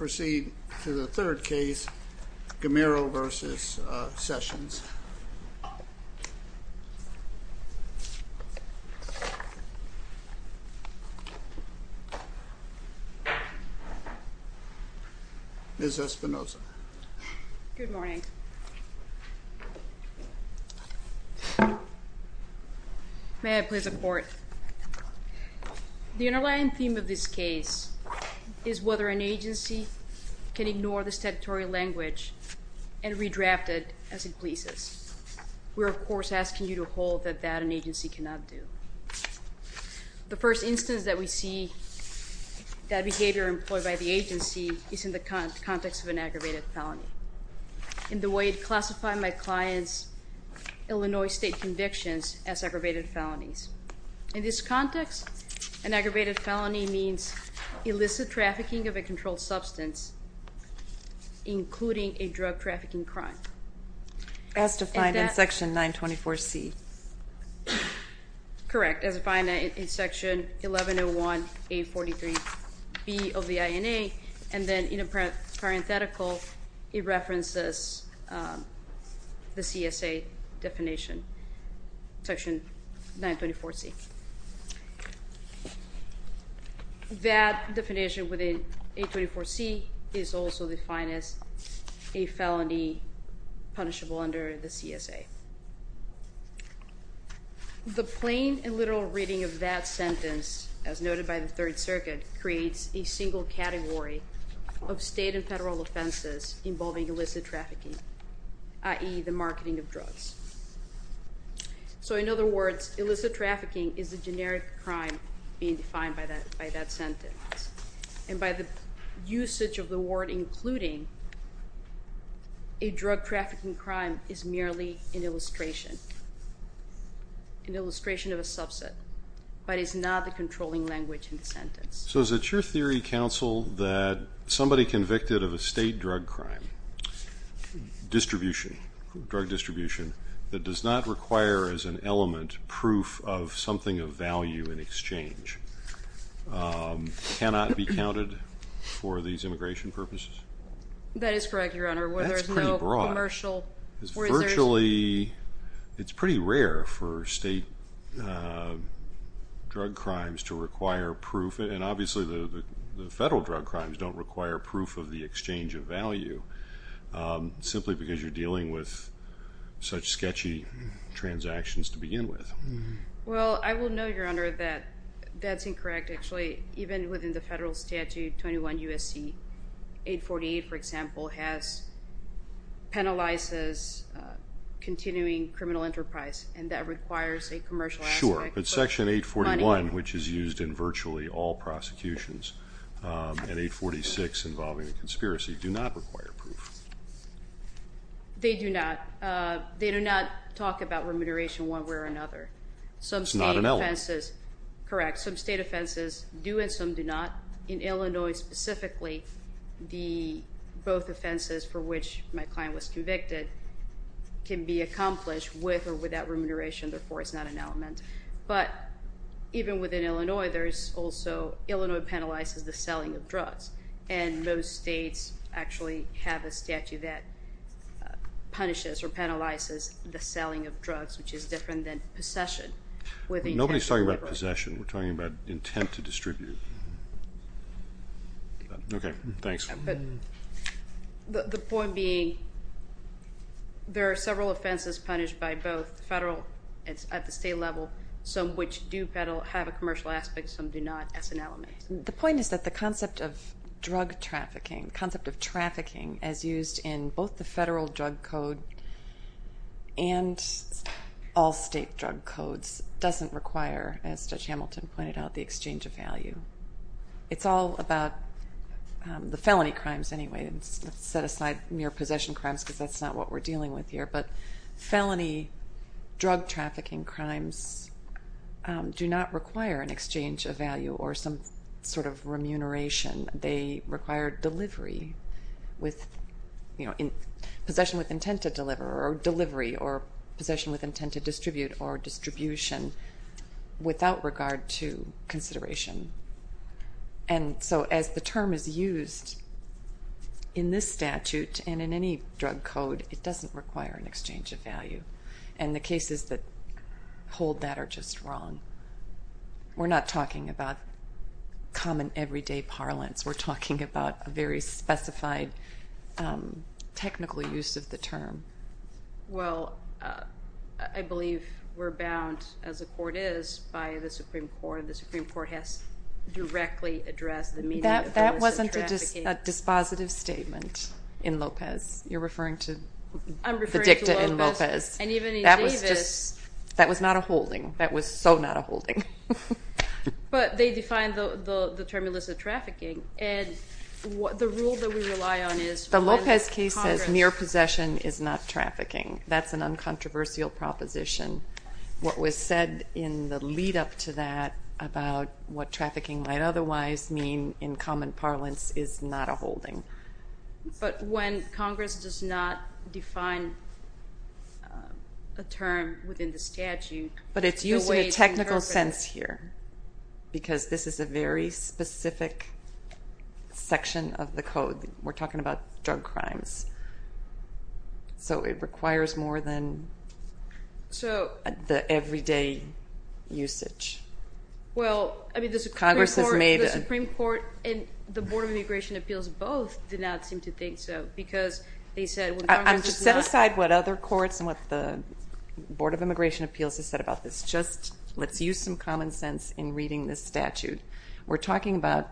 We will now proceed to the third case, Gamero v. Sessions. Ms. Espinosa. Good morning. May I please have the floor? The underlying theme of this case is whether an agency can ignore the statutory language and redraft it as it pleases. We are, of course, asking you to hold that that an agency cannot do. The first instance that we see that behavior employed by the agency is in the context of an aggravated felony. In the way it classified my client's Illinois state convictions as aggravated felonies. In this context, an aggravated felony means illicit trafficking of a controlled substance, including a drug trafficking crime. As defined in section 924C. Correct, as defined in section 1101A43B of the INA. And then in a parenthetical, it references the CSA definition, section 924C. That definition within 824C is also defined as a felony punishable under the CSA. The plain and literal reading of that sentence, as noted by the Third Circuit, creates a single category of state and federal offenses involving illicit trafficking, i.e., the marketing of drugs. So in other words, illicit trafficking is a generic crime being defined by that sentence. And by the usage of the word including, a drug trafficking crime is merely an illustration, an illustration of a subset, but is not the controlling language in the sentence. So is it your theory, counsel, that somebody convicted of a state drug crime, distribution, drug distribution, that does not require as an element proof of something of value in exchange, cannot be counted for these immigration purposes? That is correct, Your Honor. That's pretty broad. Whether there's no commercial research. Virtually, it's pretty rare for state drug crimes to require proof. And obviously the federal drug crimes don't require proof of the exchange of value, simply because you're dealing with such sketchy transactions to begin with. Well, I will note, Your Honor, that that's incorrect, actually. Even within the federal statute, 21 U.S.C. 848, for example, penalizes continuing criminal enterprise, and that requires a commercial asset. Sure, but Section 841, which is used in virtually all prosecutions, and 846 involving a conspiracy, do not require proof. They do not. They do not talk about remuneration one way or another. It's not an element. Correct. Some state offenses do and some do not. In Illinois, specifically, both offenses for which my client was convicted can be accomplished with or without remuneration. Therefore, it's not an element. But even within Illinois, Illinois penalizes the selling of drugs, and most states actually have a statute that punishes or penalizes the selling of drugs, which is different than possession. Nobody's talking about possession. We're talking about intent to distribute. Okay. Thanks. The point being there are several offenses punished by both federal and at the state level, some of which do have a commercial aspect, some do not, as an element. The point is that the concept of drug trafficking, the concept of trafficking as used in both the federal drug code and all state drug codes doesn't require, as Judge Hamilton pointed out, the exchange of value. It's all about the felony crimes anyway. Let's set aside mere possession crimes because that's not what we're dealing with here. But felony drug trafficking crimes do not require an exchange of value or some sort of remuneration. They require delivery with, you know, possession with intent to deliver or delivery or possession with intent to distribute or distribution without regard to consideration. And so as the term is used in this statute and in any drug code, it doesn't require an exchange of value. And the cases that hold that are just wrong. We're not talking about common everyday parlance. We're talking about a very specified technical use of the term. Well, I believe we're bound, as the court is, by the Supreme Court. The Supreme Court has directly addressed the meaning of the term illicit trafficking. That wasn't a dispositive statement in Lopez. You're referring to the dicta in Lopez. I'm referring to Lopez. And even in Davis. That was not a holding. That was so not a holding. But they defined the term illicit trafficking. And the rule that we rely on is. The Lopez case says mere possession is not trafficking. That's an uncontroversial proposition. What was said in the lead-up to that about what trafficking might otherwise mean in common parlance is not a holding. But when Congress does not define a term within the statute. But it's using a technical sense here. Because this is a very specific section of the code. We're talking about drug crimes. So it requires more than the everyday usage. Well, I mean, the Supreme Court and the Board of Immigration Appeals both did not seem to think so. Set aside what other courts and what the Board of Immigration Appeals has said about this. Just let's use some common sense in reading this statute. We're talking about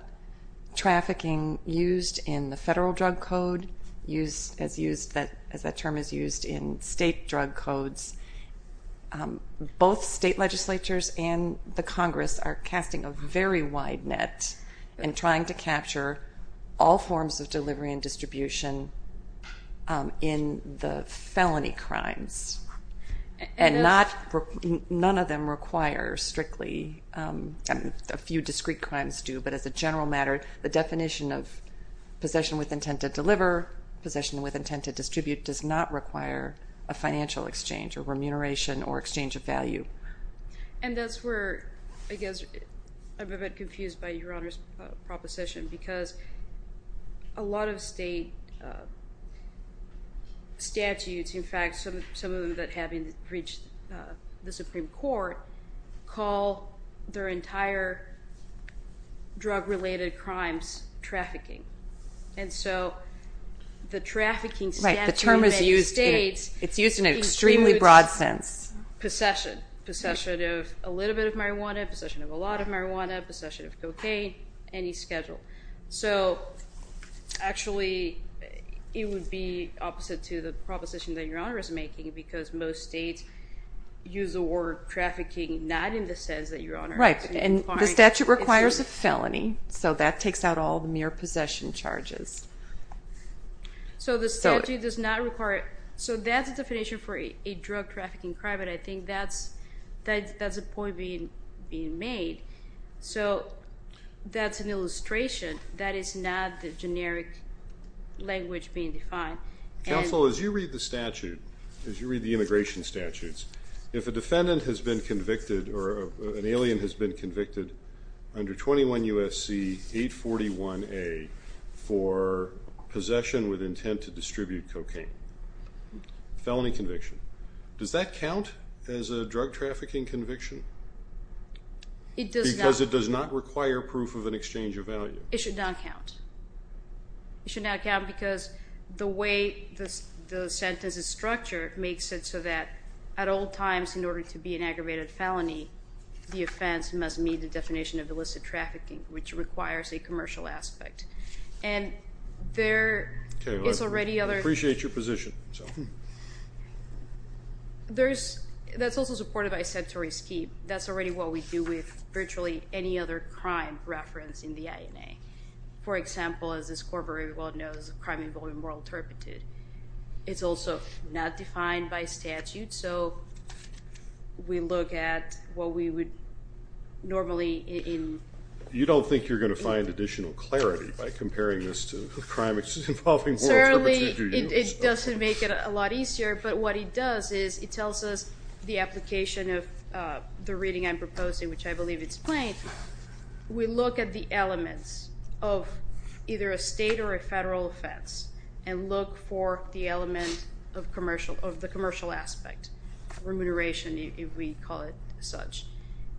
trafficking used in the federal drug code. As that term is used in state drug codes. Both state legislatures and the Congress are casting a very wide net. And trying to capture all forms of delivery and distribution in the felony crimes. And none of them require strictly a few discrete crimes do. But as a general matter, the definition of possession with intent to deliver, possession with intent to distribute, does not require a financial exchange or remuneration or exchange of value. And that's where, I guess, I'm a bit confused by Your Honor's proposition. Because a lot of state statutes, in fact, some of them that haven't reached the Supreme Court, call their entire drug-related crimes trafficking. And so the trafficking statute in many states includes possession. Possession of a little bit of marijuana, possession of a lot of marijuana, possession of cocaine, any schedule. So actually, it would be opposite to the proposition that Your Honor is making. Because most states use the word trafficking not in the sense that Your Honor... Right, and the statute requires a felony. So that takes out all the mere possession charges. So the statute does not require... So that's the definition for a drug trafficking crime. But I think that's a point being made. So that's an illustration. That is not the generic language being defined. Counsel, as you read the statute, as you read the immigration statutes, if a defendant has been convicted or an alien has been convicted under 21 U.S.C. 841A for possession with intent to distribute cocaine, felony conviction, does that count as a drug trafficking conviction? It does not. Because it does not require proof of an exchange of value. It should not count. It should not count because the way the sentence is structured makes it so that at all times, in order to be an aggravated felony, the offense must meet the definition of illicit trafficking, which requires a commercial aspect. And there is already other... That's also supported by a statutory scheme. That's already what we do with virtually any other crime referenced in the INA. For example, as this corporate world knows, crime involving moral turpitude. It's also not defined by statute, so we look at what we would normally in... You don't think you're going to find additional clarity by comparing this to crime involving moral turpitude, do you? It doesn't make it a lot easier, but what it does is it tells us the application of the reading I'm proposing, which I believe it's plain. We look at the elements of either a state or a federal offense and look for the element of the commercial aspect, remuneration, if we call it such.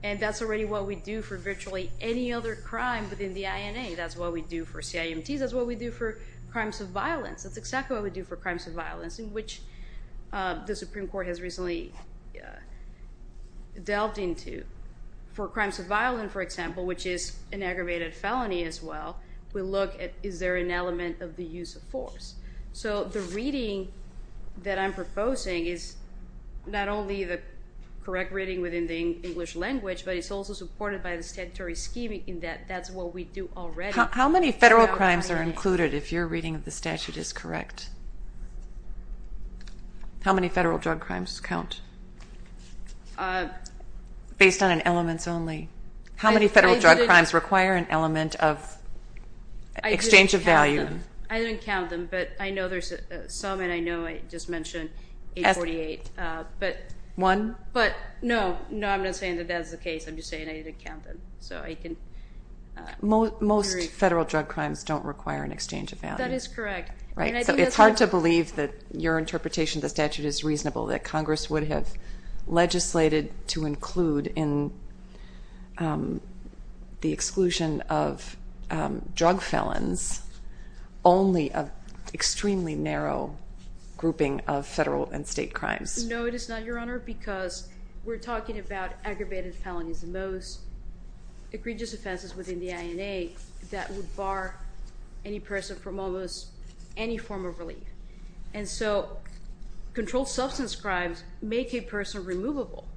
And that's already what we do for virtually any other crime within the INA. That's what we do for CIMTs. That's what we do for crimes of violence. That's exactly what we do for crimes of violence, in which the Supreme Court has recently delved into. For crimes of violence, for example, which is an aggravated felony as well, we look at is there an element of the use of force. So the reading that I'm proposing is not only the correct reading within the English language, but it's also supported by the statutory scheme in that that's what we do already. How many federal crimes are included, if your reading of the statute is correct? How many federal drug crimes count? Based on an elements only. How many federal drug crimes require an element of exchange of value? I didn't count them, but I know there's some, and I know I just mentioned 848. One? No, I'm not saying that that's the case. I'm just saying I didn't count them. Most federal drug crimes don't require an exchange of value. That is correct. It's hard to believe that your interpretation of the statute is reasonable, that Congress would have legislated to include in the exclusion of drug felons only an extremely narrow grouping of federal and state crimes. No, it is not, Your Honor, because we're talking about aggravated felonies the most, egregious offenses within the INA that would bar any person from almost any form of relief. And so controlled substance crimes make a person removable.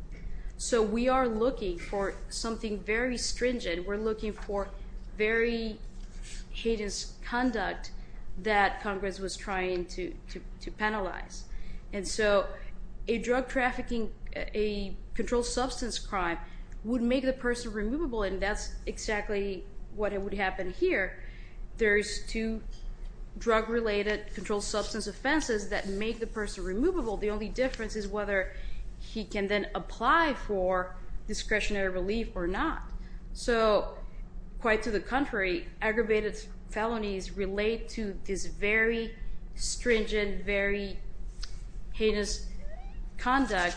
So we are looking for something very stringent. We're looking for very heinous conduct that Congress was trying to penalize. And so a drug trafficking, a controlled substance crime would make the person removable, and that's exactly what would happen here. There's two drug-related controlled substance offenses that make the person removable. The only difference is whether he can then apply for discretionary relief or not. So quite to the contrary, aggravated felonies relate to this very stringent, very heinous conduct,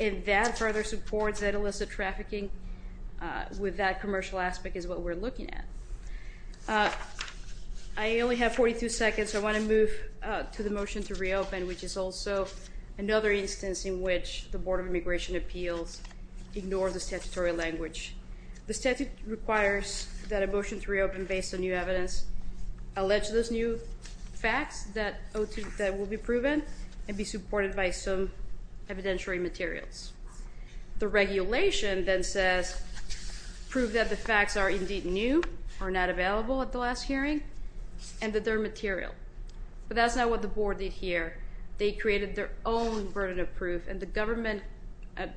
and that further supports that illicit trafficking with that commercial aspect is what we're looking at. I only have 42 seconds, so I want to move to the motion to reopen, which is also another instance in which the Board of Immigration Appeals ignores the statutory language. The statute requires that a motion to reopen based on new evidence allege those new facts that will be proven and be supported by some evidentiary materials. The regulation then says prove that the facts are indeed new, are not available at the last hearing, and that they're material. But that's not what the Board did here. They created their own burden of proof, and the government, at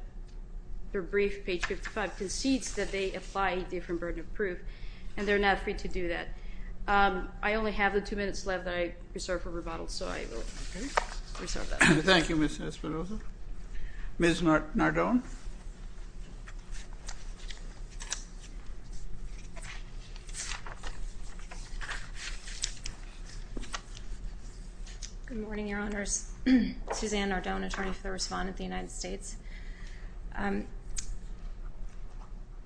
their brief, page 55, concedes that they apply a different burden of proof, and they're not free to do that. I only have the two minutes left that I reserve for rebuttal, so I will reserve that. Thank you, Ms. Esparza. Ms. Nardone. Good morning, Your Honors. Suzanne Nardone, attorney for the respondent of the United States.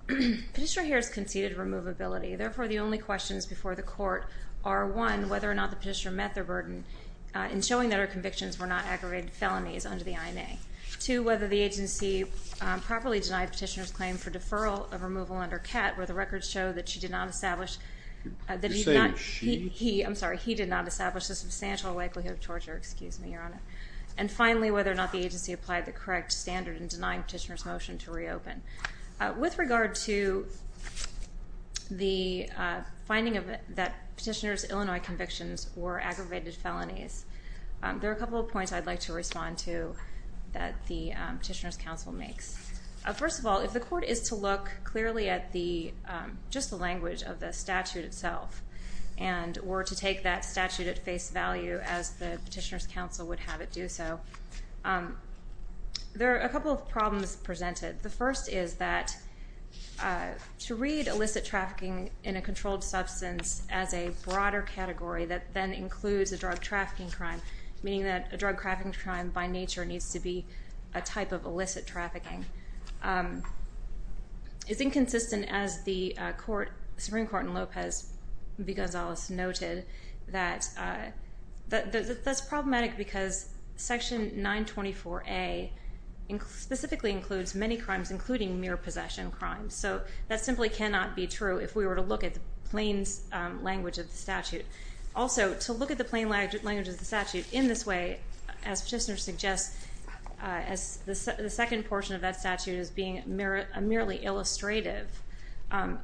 Petitioner here has conceded removability. Therefore, the only questions before the court are, one, whether or not the petitioner met their burden in showing that her convictions were not aggravated felonies under the IMA, two, whether the agency properly denied petitioner's claim for deferral of removal under CAT, where the records show that she did not establish the substantial likelihood of torture. And finally, whether or not the agency applied the correct standard in denying petitioner's motion to reopen. With regard to the finding that petitioner's Illinois convictions were aggravated felonies, there are a couple of points I'd like to respond to that the petitioner's counsel makes. First of all, if the court is to look clearly at just the language of the statute itself and were to take that statute at face value as the petitioner's counsel would have it do so, there are a couple of problems presented. The first is that to read illicit trafficking in a controlled substance as a broader category that then includes a drug trafficking crime, meaning that a drug trafficking crime by nature needs to be a type of illicit trafficking. It's inconsistent, as the Supreme Court in Lopez v. Gonzalez noted, that that's problematic because Section 924A specifically includes many crimes, including mere possession crimes. So that simply cannot be true if we were to look at the plain language of the statute. Also, to look at the plain language of the statute in this way, as petitioner suggests, as the second portion of that statute is being merely illustrative,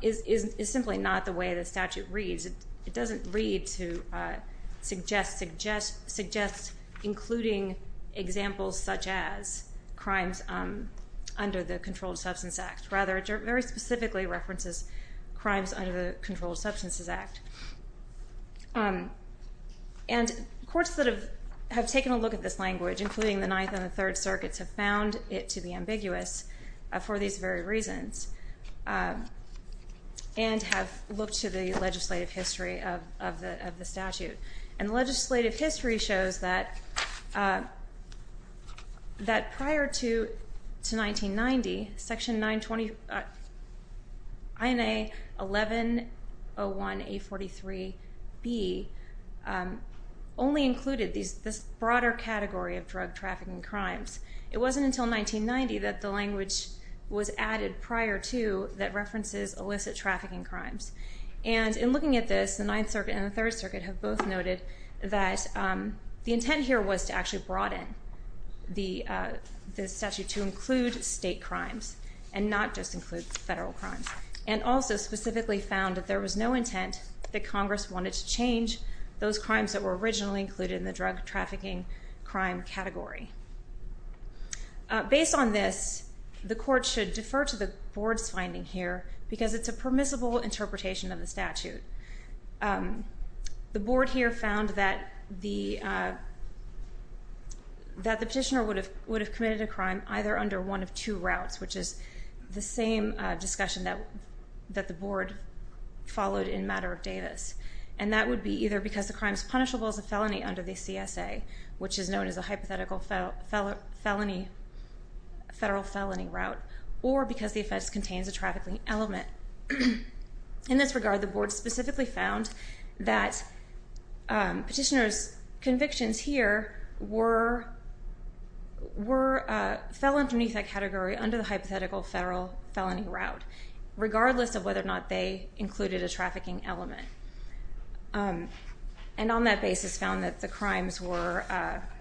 is simply not the way the statute reads. It doesn't read to suggest including examples such as crimes under the Controlled Substance Act. Rather, it very specifically references crimes under the Controlled Substances Act. And courts that have taken a look at this language, including the Ninth and the Third Circuits, have found it to be ambiguous for these very reasons and have looked to the legislative history of the statute. And legislative history shows that prior to 1990, Section 920 INA 1101A43B only included this broader category of drug trafficking crimes. It wasn't until 1990 that the language was added prior to that references illicit trafficking crimes. And in looking at this, the Ninth Circuit and the Third Circuit have both noted that the intent here was to actually broaden the statute to include state crimes and not just include federal crimes, and also specifically found that there was no intent that Congress wanted to change those crimes that were originally included in the drug trafficking crime category. Based on this, the Court should defer to the Board's finding here because it's a permissible interpretation of the statute. The Board here found that the petitioner would have committed a crime either under one of two routes, which is the same discussion that the Board followed in Matter of Davis. And that would be either because the crime is punishable as a felony under the CSA, which is known as a hypothetical federal felony route, or because the offense contains a trafficking element. In this regard, the Board specifically found that petitioner's convictions here fell underneath that category under the hypothetical federal felony route, regardless of whether or not they included a trafficking element. And on that basis found that the crimes were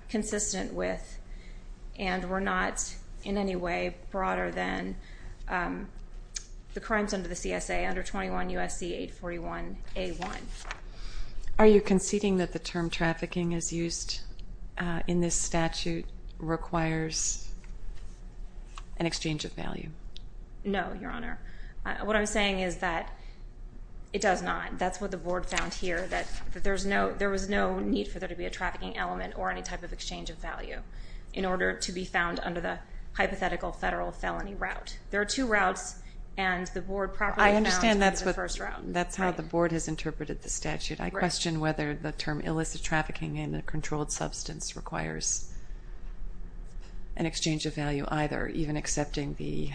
consistent with and were not in any way broader than the crimes under the CSA under 21 U.S.C. 841 A.1. Are you conceding that the term trafficking as used in this statute requires an exchange of value? No, Your Honor. What I'm saying is that it does not. That's what the Board found here, that there was no need for there to be a trafficking element or any type of exchange of value in order to be found under the hypothetical federal felony route. There are two routes, and the Board properly found the first route. I understand that's how the Board has interpreted the statute. I question whether the term illicit trafficking in a controlled substance requires an exchange of value either, even accepting the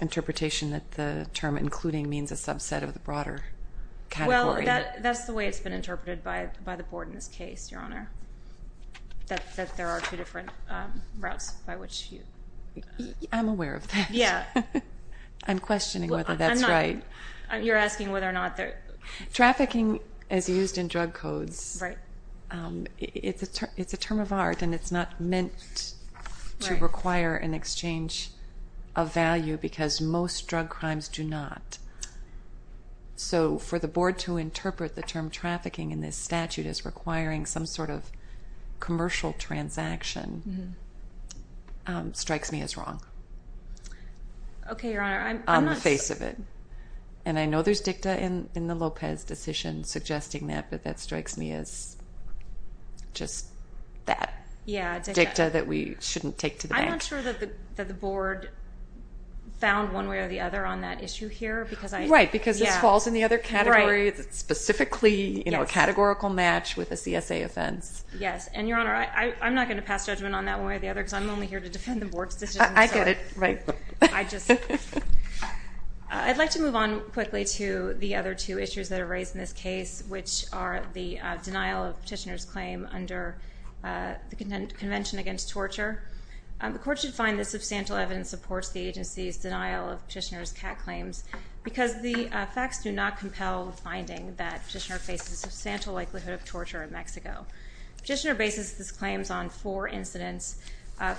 interpretation that the term including means a subset of the broader category. That's the way it's been interpreted by the Board in this case, Your Honor, that there are two different routes by which you... I'm aware of that. I'm questioning whether that's right. You're asking whether or not there... Trafficking as used in drug codes, it's a term of art, and it's not meant to require an exchange of value because most drug crimes do not. So for the Board to interpret the term trafficking in this statute as requiring some sort of commercial transaction strikes me as wrong. Okay, Your Honor, I'm not... On the face of it. And I know there's dicta in the Lopez decision suggesting that, but that strikes me as just that. Yeah, dicta. Dicta that we shouldn't take to the bank. I'm not sure that the Board found one way or the other on that issue here because I... Right, because this falls in the other category, specifically a categorical match with a CSA offense. Yes, and, Your Honor, I'm not going to pass judgment on that one way or the other because I'm only here to defend the Board's decision. I get it. Right. I'd like to move on quickly to the other two issues that are raised in this case, which are the denial of petitioner's claim under the Convention Against Torture. The Court should find that substantial evidence supports the agency's denial of petitioner's CAT claims because the facts do not compel the finding that petitioner faces a substantial likelihood of torture in Mexico. Petitioner bases his claims on four incidents,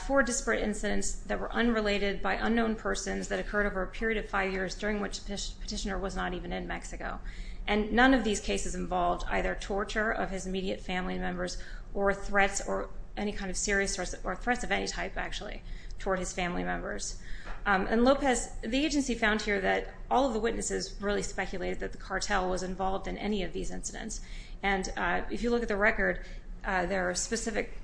four disparate incidents that were unrelated by unknown persons that occurred over a period of five years during which the petitioner was not even in Mexico. And none of these cases involved either torture of his immediate family members or threats of any type, actually, toward his family members. And, Lopez, the agency found here that all of the witnesses really speculated that the cartel was involved in any of these incidents. And if you look at the record, there are specific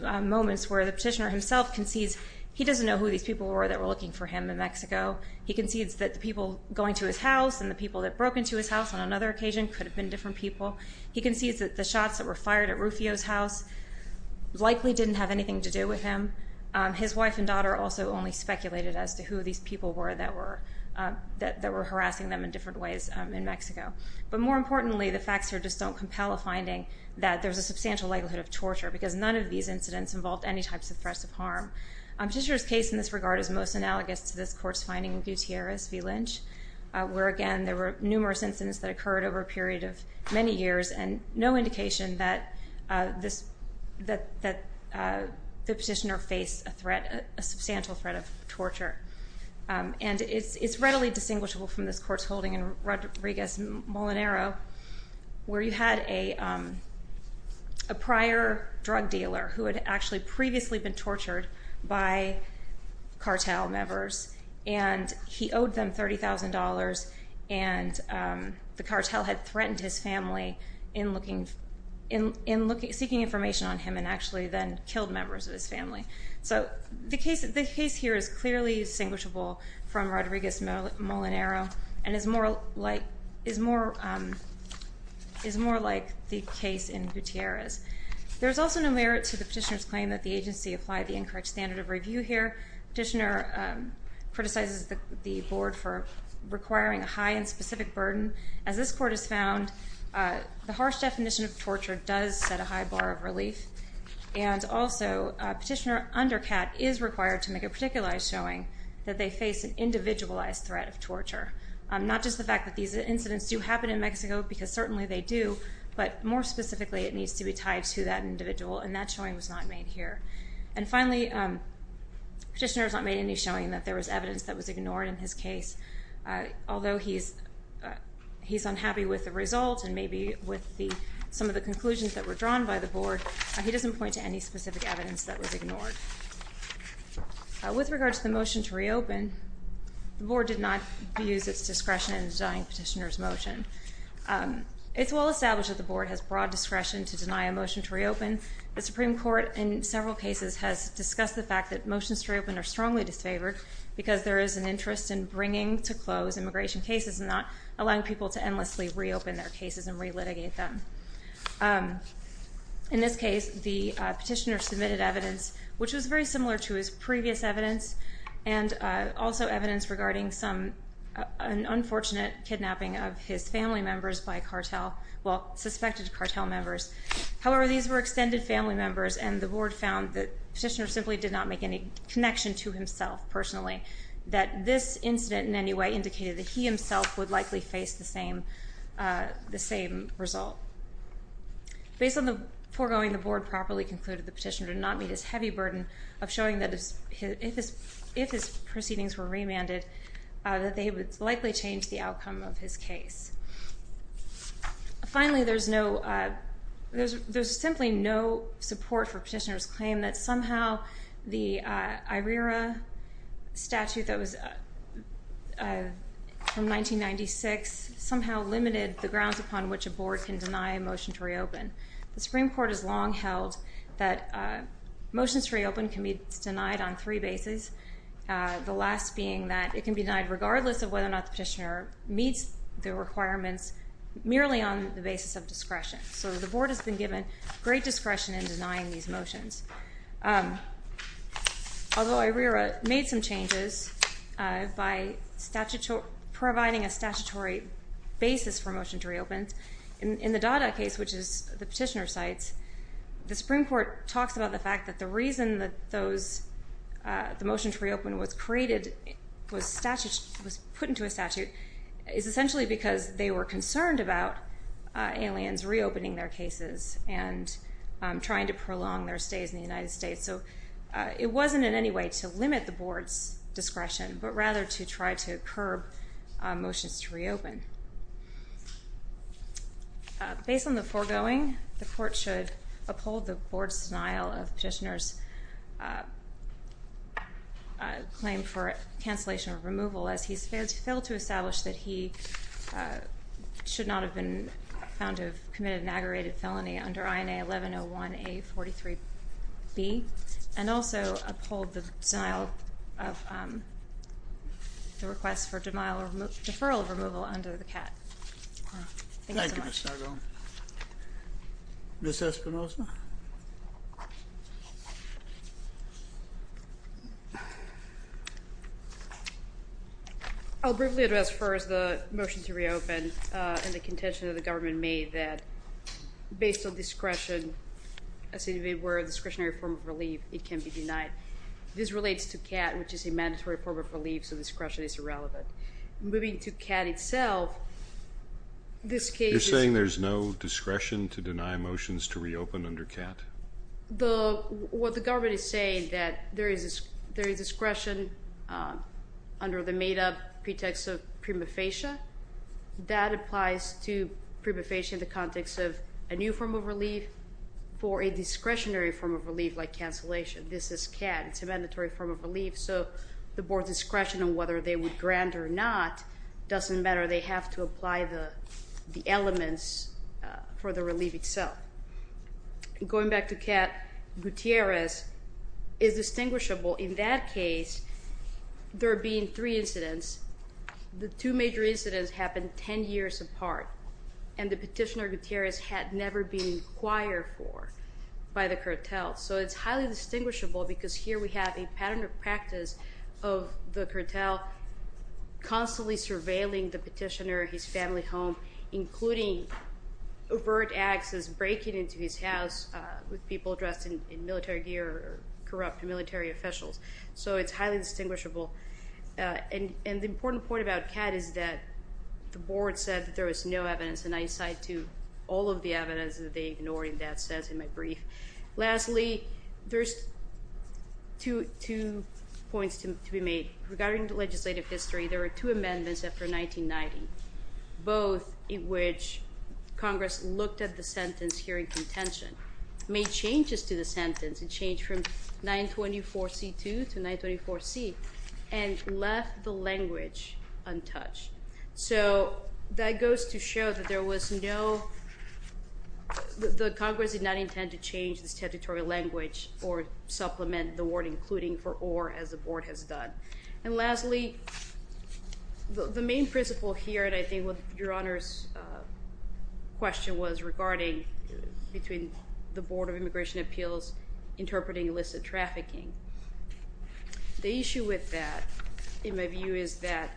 moments where the petitioner himself concedes he doesn't know who these people were that were looking for him in Mexico. He concedes that the people going to his house and the people that broke into his house on another occasion could have been different people. He concedes that the shots that were fired at Rufio's house likely didn't have anything to do with him. His wife and daughter also only speculated as to who these people were that were harassing them in different ways in Mexico. But more importantly, the facts here just don't compel a finding that there's a substantial likelihood of torture because none of these incidents involved any types of threats of harm. Petitioner's case in this regard is most analogous to this Court's finding in Gutierrez v. Lynch, where, again, there were numerous incidents that occurred over a period of many years and no indication that the petitioner faced a threat, a substantial threat of torture. And it's readily distinguishable from this Court's holding in Rodriguez-Molinero where you had a prior drug dealer who had actually previously been tortured by cartel members and he owed them $30,000 and the cartel had threatened his family in seeking information on him and actually then killed members of his family. So the case here is clearly distinguishable from Rodriguez-Molinero and is more like the case in Gutierrez. There's also no merit to the petitioner's claim that the agency applied the incorrect standard of review here. Petitioner criticizes the Board for requiring a high and specific burden. As this Court has found, the harsh definition of torture does set a high bar of relief. And also, Petitioner under Catt is required to make a particularized showing that they face an individualized threat of torture, not just the fact that these incidents do happen in Mexico because certainly they do, but more specifically it needs to be tied to that individual, and that showing was not made here. And finally, Petitioner has not made any showing that there was evidence that was ignored in his case. Although he's unhappy with the result and maybe with some of the conclusions that were drawn by the Board, he doesn't point to any specific evidence that was ignored. With regard to the motion to reopen, the Board did not abuse its discretion in denying Petitioner's motion. It's well established that the Board has broad discretion to deny a motion to reopen. The Supreme Court in several cases has discussed the fact that motions to reopen are strongly disfavored because there is an interest in bringing to close immigration cases and not allowing people to endlessly reopen their cases and relitigate them. In this case, the Petitioner submitted evidence which was very similar to his previous evidence and also evidence regarding an unfortunate kidnapping of his family members by a cartel, well, suspected cartel members. However, these were extended family members, and the Board found that Petitioner simply did not make any connection to himself personally, that this incident in any way indicated that he himself would likely face the same result. Based on the foregoing, the Board properly concluded that Petitioner did not meet his heavy burden of showing that if his proceedings were remanded, that they would likely change the outcome of his case. Finally, there's simply no support for Petitioner's claim that somehow the IRERA statute that was from 1996 somehow limited the grounds upon which a Board can deny a motion to reopen. The Supreme Court has long held that motions to reopen can be denied on three bases, the last being that it can be denied regardless of whether or not the Petitioner meets the requirements merely on the basis of discretion. So the Board has been given great discretion in denying these motions. Although IRERA made some changes by providing a statutory basis for a motion to reopen, in the Dada case, which is the Petitioner's sites, the Supreme Court talks about the fact that the reason that the motion to reopen was put into a statute is essentially because they were concerned about aliens reopening their cases and trying to prolong their stays in the United States. So it wasn't in any way to limit the Board's discretion, but rather to try to curb motions to reopen. Based on the foregoing, the Court should uphold the Board's denial of Petitioner's claim for cancellation of removal as he's failed to establish that he should not have been found to have committed an aggravated felony under INA 1101A43B and also uphold the request for denial or deferral of removal under the CAT. Thank you so much. Thank you, Ms. Sargon. Ms. Espinosa? I'll briefly address first the motion to reopen and the contention that the government made that based on discretion, as if it were a discretionary form of relief, it can be denied. This relates to CAT, which is a mandatory form of relief, so discretion is irrelevant. Moving to CAT itself, this case is... You're saying there's no discretion to deny motions to reopen under CAT? What the government is saying is that there is discretion under the made-up pretext of prima facie. That applies to prima facie in the context of a new form of relief for a discretionary form of relief like cancellation. This is CAT. It's a mandatory form of relief, so the Board's discretion on whether they would grant or not doesn't matter. They have to apply the elements for the relief itself. Going back to CAT, Gutierrez is distinguishable. In that case, there are being three incidents. The two major incidents happened 10 years apart, and the petitioner Gutierrez had never been inquired for by the cartel. So it's highly distinguishable because here we have a pattern of practice of the cartel constantly surveilling the petitioner, his family home, including overt acts as breaking into his house with people dressed in military gear or corrupt military officials. So it's highly distinguishable. And the important point about CAT is that the Board said that there was no evidence, and I cite to all of the evidence that they ignored in that sense in my brief. Lastly, there's two points to be made. Regarding the legislative history, there were two amendments after 1990, both in which Congress looked at the sentence here in contention, made changes to the sentence, a change from 924C2 to 924C, and left the language untouched. So that goes to show that there was no—the Congress did not intend to change this statutory language or supplement the word including for or as the Board has done. And lastly, the main principle here, and I think your Honor's question was regarding between the Board of Immigration Appeals interpreting illicit trafficking. The issue with that, in my view, is that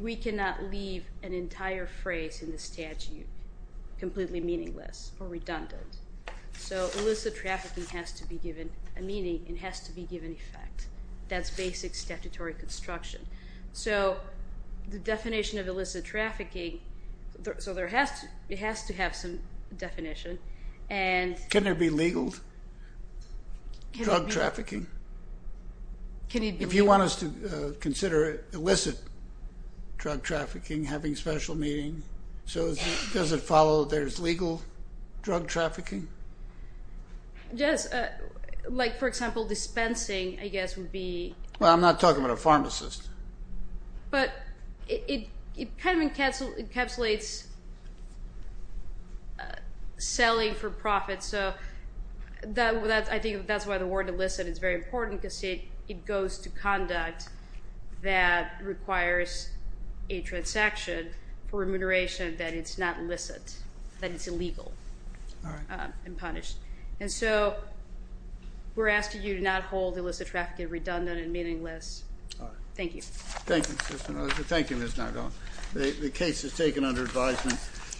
we cannot leave an entire phrase in the statute completely meaningless or redundant. So illicit trafficking has to be given a meaning and has to be given effect. That's basic statutory construction. So the definition of illicit trafficking—so it has to have some definition. Can there be legal drug trafficking? If you want us to consider illicit drug trafficking, having special meaning, so does it follow there's legal drug trafficking? Yes. Like, for example, dispensing, I guess, would be— Well, I'm not talking about a pharmacist. But it kind of encapsulates selling for profit. So I think that's why the word illicit is very important because it goes to conduct that requires a transaction for remuneration that it's not illicit, that it's illegal and punished. And so we're asking you to not hold illicit trafficking redundant and meaningless. All right. Thank you. Thank you, Assistant Auditor. Thank you, Ms. Nargo. The case is taken under advisement.